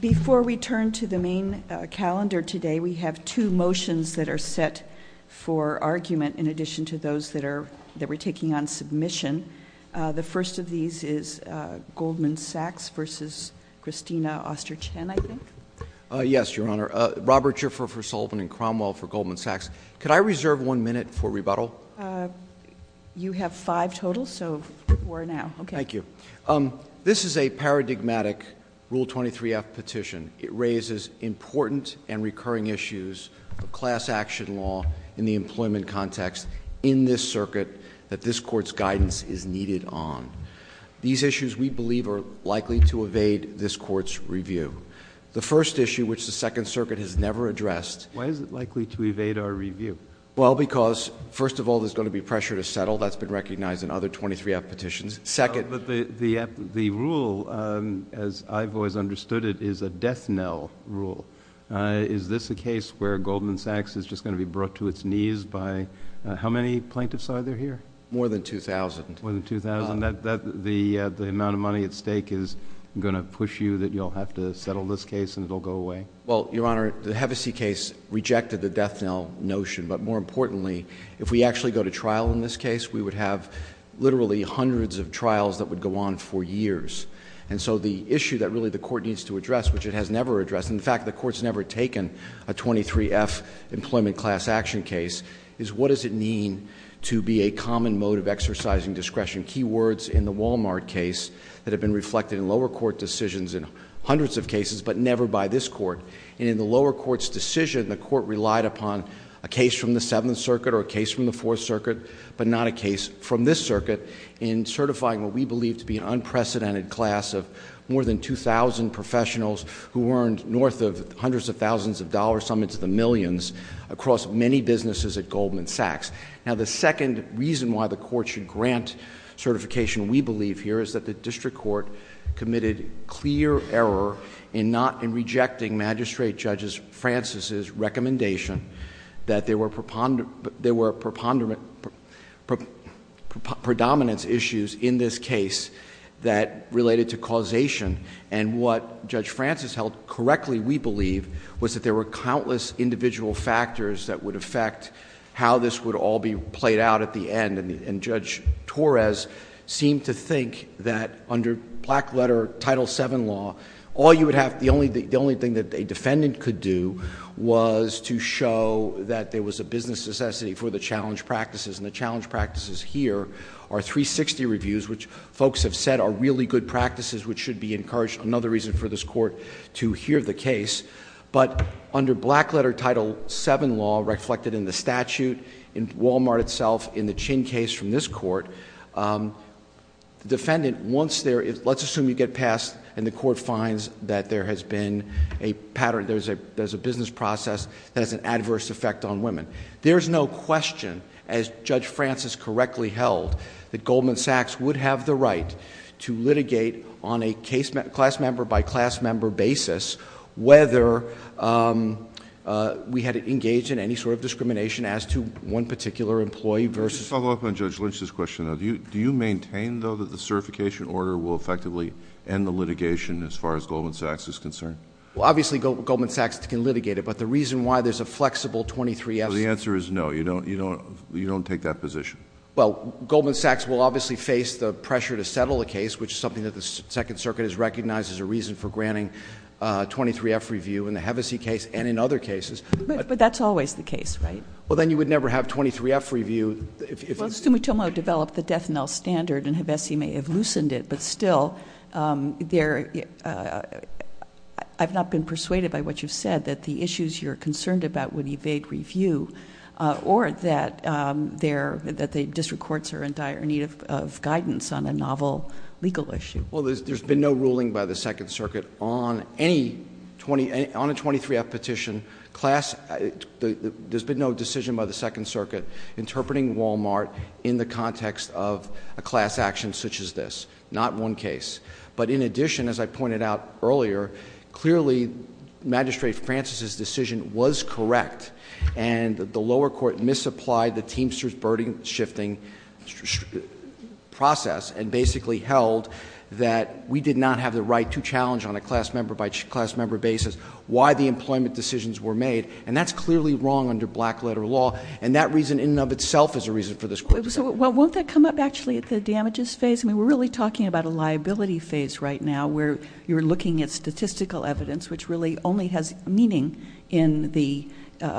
Before we turn to the main calendar today, we have two motions that are set for argument in addition to those that we're taking on submission. The first of these is Goldman Sachs v. Christina Oster Chen, I think. Yes, Your Honor. Robert Schiffer for Sullivan and Cromwell for Goldman Sachs. Could I reserve one minute for rebuttal? Okay. Thank you. This is a paradigmatic Rule 23-F petition. It raises important and recurring issues of class action law in the employment context in this circuit that this court's guidance is needed on. These issues, we believe, are likely to evade this court's review. The first issue, which the Second Circuit has never addressed- Why is it likely to evade our review? Well, because, first of all, there's going to be pressure to settle. That's been recognized in other 23-F petitions. Second- But the rule, as I've always understood it, is a death knell rule. Is this a case where Goldman Sachs is just going to be brought to its knees by how many plaintiffs are there here? More than 2,000. More than 2,000. The amount of money at stake is going to push you that you'll have to settle this case and it'll go away? Well, Your Honor, the Hevesi case rejected the death knell notion, but more importantly, if we actually go to trial in this case, we would have literally hundreds of trials that would go on for years. And so the issue that really the court needs to address, which it has never addressed, in fact, the court's never taken a 23-F employment class action case, is what does it mean to be a common mode of exercising discretion? Key words in the Walmart case that have been reflected in lower court decisions in hundreds of cases, but never by this court. And in the lower court's decision, the court relied upon a case from the Seventh Circuit or a case from the Fourth Circuit, but not a case from this circuit. In certifying what we believe to be an unprecedented class of more than 2,000 professionals who earned north of hundreds of thousands of dollars, some into the millions, across many businesses at Goldman Sachs. Now the second reason why the court should grant certification, we believe here, is that the district court committed clear error in rejecting Magistrate Judge Francis's recommendation that there were predominance issues in this case that related to causation, and what Judge Francis held correctly, we believe, was that there were countless individual factors that would affect how this would all be played out at the end. And Judge Torres seemed to think that under black letter title seven law, all you would have, the only thing that a defendant could do was to show that there was a business necessity for the challenge practices, and the challenge practices here are 360 reviews, which folks have said are really good practices, which should be encouraged, another reason for this court to hear the case. But under black letter title seven law, reflected in the statute, in Walmart itself, in the Chin case from this court, the defendant, once there is, let's assume you get passed and the court finds that there has been a pattern, there's a business process that has an adverse effect on women. There's no question, as Judge Francis correctly held, that Goldman Sachs would have the right to litigate on a class member by class member basis, whether we had it engaged in any sort of discrimination as to one particular employee versus- Just to follow up on Judge Lynch's question, do you maintain, though, that the certification order will effectively end the litigation as far as Goldman Sachs is concerned? Well, obviously, Goldman Sachs can litigate it, but the reason why there's a flexible 23-S- The answer is no, you don't take that position. Well, Goldman Sachs will obviously face the pressure to settle a case, which is something that the Second Circuit has recognized as a reason for granting 23-F review in the Hevesi case and in other cases. But that's always the case, right? Well, then you would never have 23-F review if- Well, Sumitomo developed the death knell standard, and Hevesi may have loosened it, but still, I've not been persuaded by what you've said, that the issues you're concerned about would evade review or that the district courts are in dire need of guidance on a novel legal issue. Well, there's been no ruling by the Second Circuit on a 23-F petition. There's been no decision by the Second Circuit interpreting Walmart in the context of a class action such as this. Not one case. But in addition, as I pointed out earlier, clearly, Magistrate Francis's decision was correct. And the lower court misapplied the Teamsters' burden shifting process and basically held that we did not have the right to challenge on a class member by class member basis why the employment decisions were made. And that's clearly wrong under black letter law. And that reason in and of itself is a reason for this court to- So won't that come up actually at the damages phase? I mean, we're really talking about a liability phase right now where you're looking at statistical evidence, which really only has meaning in the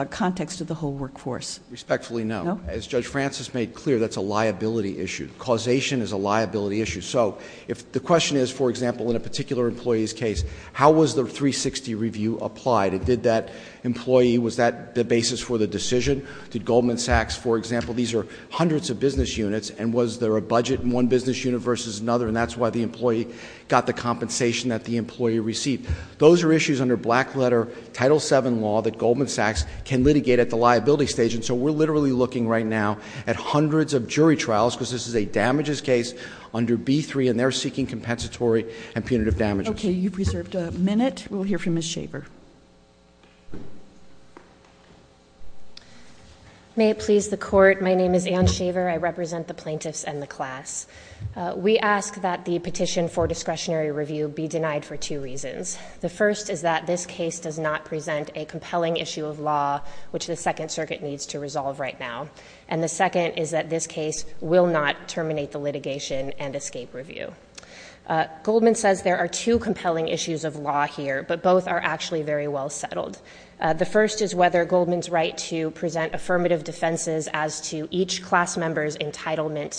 context of the whole workforce. Respectfully, no. As Judge Francis made clear, that's a liability issue. Causation is a liability issue. So if the question is, for example, in a particular employee's case, how was the 360 review applied? Did that employee, was that the basis for the decision? Did Goldman Sachs, for example, these are hundreds of business units, and was there a budget in one business unit versus another? And that's why the employee got the compensation that the employee received. Those are issues under black letter, Title VII law that Goldman Sachs can litigate at the liability stage. And so we're literally looking right now at hundreds of jury trials, because this is a damages case under B3, and they're seeking compensatory and punitive damages. Okay, you've reserved a minute. We'll hear from Ms. Shaver. May it please the court, my name is Ann Shaver, I represent the plaintiffs and the class. We ask that the petition for discretionary review be denied for two reasons. The first is that this case does not present a compelling issue of law, which the Second Circuit needs to resolve right now. And the second is that this case will not terminate the litigation and escape review. Goldman says there are two compelling issues of law here, but both are actually very well settled. The first is whether Goldman's right to present affirmative defenses as to each class member's entitlement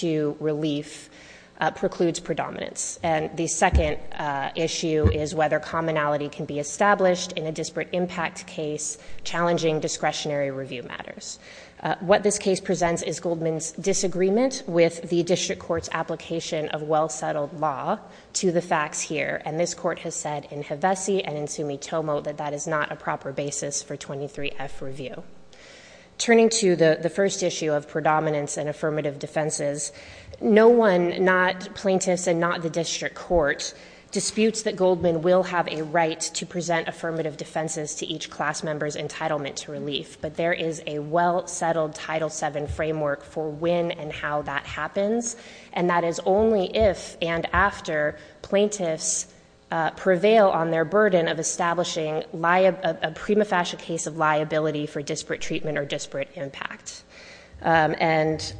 to relief precludes predominance. And the second issue is whether commonality can be established in a disparate impact case, challenging discretionary review matters. What this case presents is Goldman's disagreement with the district court's application of well settled law to the facts here. And this court has said in Hevesi and in Sumitomo that that is not a proper basis for 23F review. Turning to the first issue of predominance and affirmative defenses. No one, not plaintiffs and not the district court, disputes that Goldman will have a right to present affirmative defenses to each class member's entitlement to relief. But there is a well settled Title VII framework for when and how that happens. And that is only if and after plaintiffs prevail on their burden of a prima facie case of liability for disparate treatment or disparate impact. And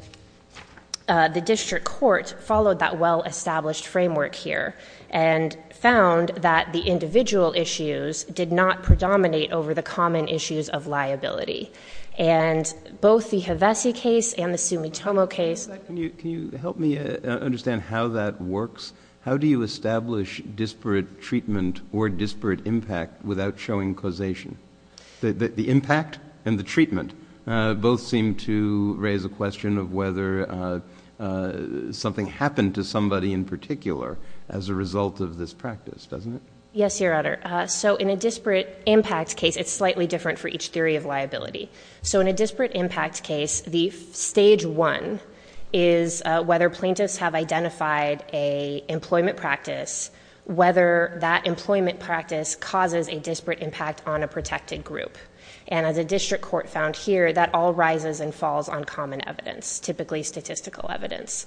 the district court followed that well established framework here and found that the individual issues did not predominate over the common issues of liability. And both the Hevesi case and the Sumitomo case- Can you help me understand how that works? How do you establish disparate treatment or disparate impact without showing causation? The impact and the treatment both seem to raise a question of whether something happened to somebody in particular as a result of this practice, doesn't it? Yes, your honor. So in a disparate impact case, it's slightly different for each theory of liability. So in a disparate impact case, the stage one is whether plaintiffs have identified a employment practice, whether that employment practice causes a disparate impact on a protected group. And as a district court found here, that all rises and falls on common evidence, typically statistical evidence.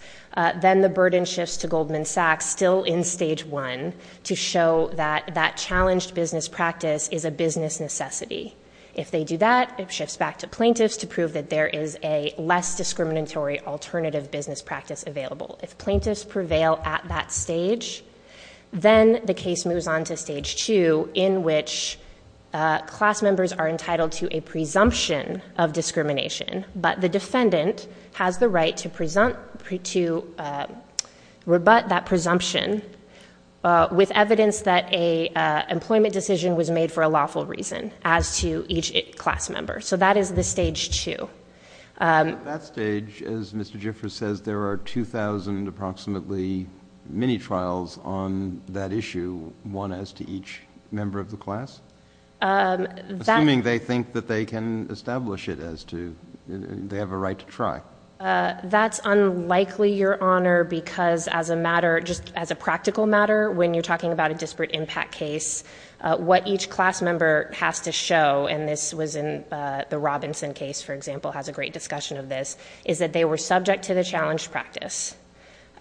Then the burden shifts to Goldman Sachs, still in stage one, to show that that challenged business practice is a business necessity. If they do that, it shifts back to plaintiffs to prove that there is a less discriminatory alternative business practice available. If plaintiffs prevail at that stage, then the case moves on to stage two, in which class members are entitled to a presumption of discrimination. But the defendant has the right to rebut that presumption with evidence that a employment decision was made for a lawful reason as to each class member. So that is the stage two. At that stage, as Mr. Gifford says, there are 2,000 approximately many trials on that issue, one as to each member of the class? Assuming they think that they can establish it as to, they have a right to try. That's unlikely, Your Honor, because as a matter, just as a practical matter, when you're talking about a disparate impact case, what each class member has to show, and this was in the Robinson case, for example, has a great discussion of this, is that they were subject to the challenge practice.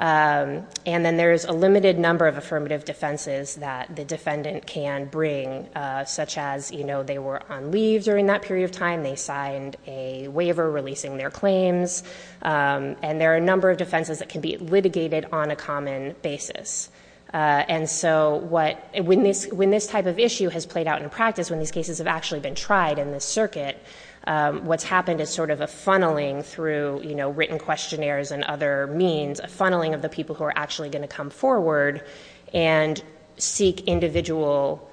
And then there's a limited number of affirmative defenses that the defendant can bring, such as they were on leave during that period of time, they signed a waiver releasing their claims. And there are a number of defenses that can be litigated on a common basis. And so when this type of issue has played out in practice, when these cases have actually been tried in this circuit, what's happened is sort of a funneling through written questionnaires and other means, a funneling of the people who are actually going to come forward and seek individual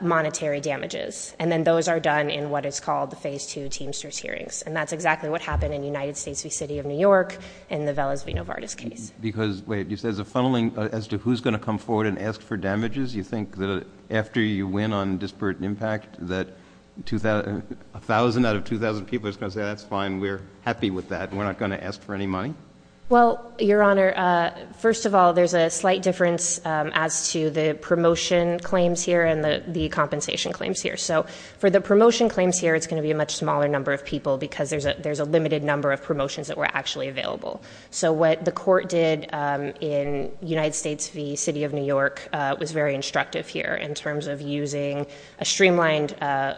monetary damages. And then those are done in what is called the phase two teamsters hearings. And that's exactly what happened in the United States v. City of New York, in the Veles v. Novartis case. Because, wait, you said it's a funneling as to who's going to come forward and ask for damages? You think that after you win on disparate impact, that 1,000 out of 2,000 people is going to say, that's fine, we're happy with that. We're not going to ask for any money? Well, your honor, first of all, there's a slight difference as to the promotion claims here and the compensation claims here. So for the promotion claims here, it's going to be a much smaller number of people because there's a limited number of promotions that were actually available. So what the court did in United States v. City of New York was very instructive here in terms of using a streamlined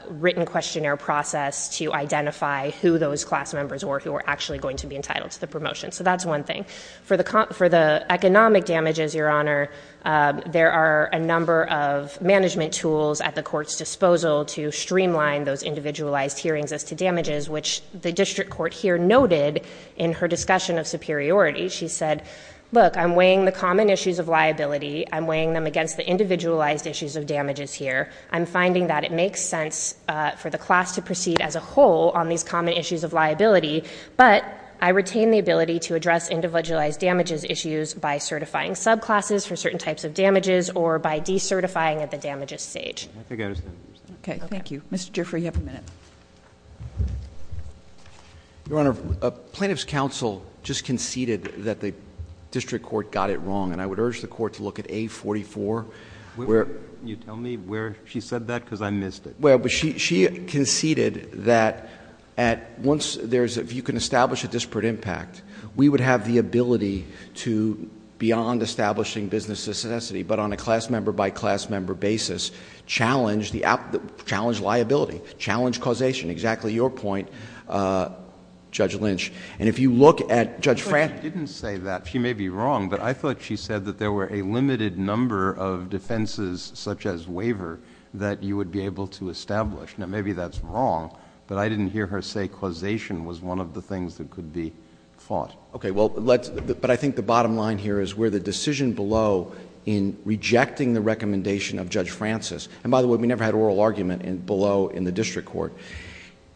written questionnaire process to identify who those class members were who were actually going to be entitled to the promotion. So that's one thing. For the economic damages, your honor, there are a number of management tools at the court's disposal to streamline those individualized hearings as to damages. Which the district court here noted in her discussion of superiority. She said, look, I'm weighing the common issues of liability. I'm weighing them against the individualized issues of damages here. I'm finding that it makes sense for the class to proceed as a whole on these common issues of liability. But I retain the ability to address individualized damages issues by certifying subclasses for certain types of damages or by decertifying at the damages stage. I think I understand. Okay, thank you. Mr. Giffrey, you have a minute. Your honor, plaintiff's counsel just conceded that the district court got it wrong. And I would urge the court to look at A44. Where? You tell me where she said that, because I missed it. Well, but she conceded that at once there's, if you can establish a disparate impact, we would have the ability to, beyond establishing business necessity, but on a class member by class member basis, challenge liability, challenge causation, exactly your point, Judge Lynch. And if you look at Judge Franklin. Frank didn't say that. She may be wrong, but I thought she said that there were a limited number of defenses, such as waiver, that you would be able to establish. Now, maybe that's wrong, but I didn't hear her say causation was one of the things that could be fought. Okay, well, but I think the bottom line here is where the decision below in rejecting the recommendation of Judge Francis. And by the way, we never had oral argument below in the district court.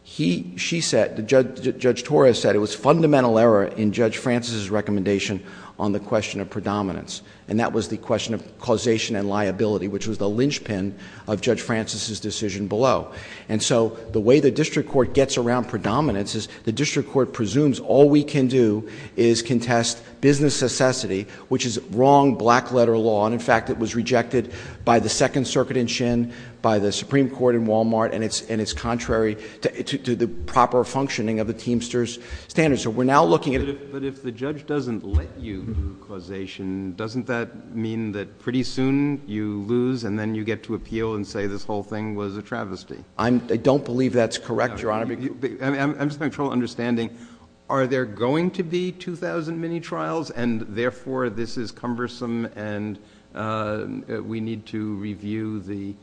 She said, Judge Torres said, it was fundamental error in Judge Francis's recommendation on the question of predominance. And that was the question of causation and liability, which was the linchpin of Judge Francis's decision below. And so, the way the district court gets around predominance is the district court presumes all we can do is contest business necessity, which is wrong black letter law. And in fact, it was rejected by the Second Circuit in Chin, by the Supreme Court in Walmart, and it's contrary to the proper functioning of the Teamster's standards. So we're now looking at- But if the judge doesn't let you causation, doesn't that mean that pretty soon you lose and then you get to appeal and say this whole thing was a travesty? I don't believe that's correct, Your Honor. I'm just not sure I'm understanding. Are there going to be 2,000 mini-trials, and therefore this is cumbersome, and we need to review the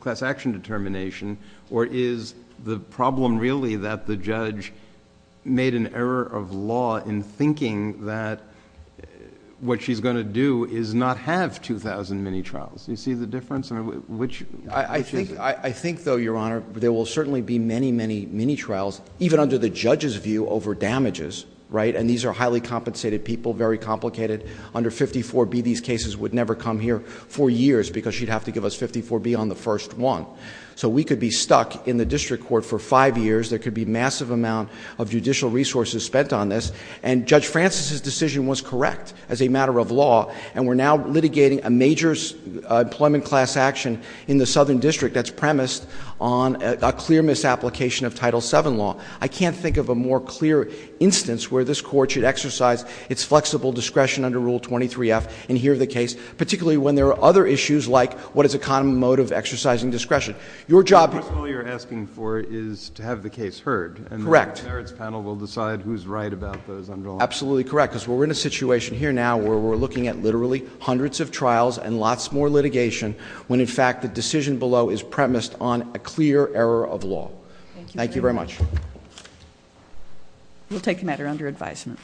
class action determination? Or is the problem really that the judge made an error of law in thinking that what she's going to do is not have 2,000 mini-trials? Do you see the difference? I mean, which- I think, though, Your Honor, there will certainly be many, many mini-trials, even under the judge's view, over damages, right? And these are highly compensated people, very complicated. Under 54B, these cases would never come here for years, because she'd have to give us 54B on the first one. So we could be stuck in the district court for five years. There could be massive amount of judicial resources spent on this. And Judge Francis's decision was correct as a matter of law, and we're now litigating a major employment class action in the southern district that's premised on a clear misapplication of Title VII law. I can't think of a more clear instance where this court should exercise its flexible discretion under Rule 23F and hear the case. Particularly when there are other issues like, what is a common mode of exercising discretion? Your job- First of all, you're asking for is to have the case heard, and the merits panel will decide who's right about those underlying- Absolutely correct, because we're in a situation here now where we're looking at literally hundreds of trials and lots more litigation when, in fact, the decision below is premised on a clear error of law. Thank you very much. We'll take the matter under advisement.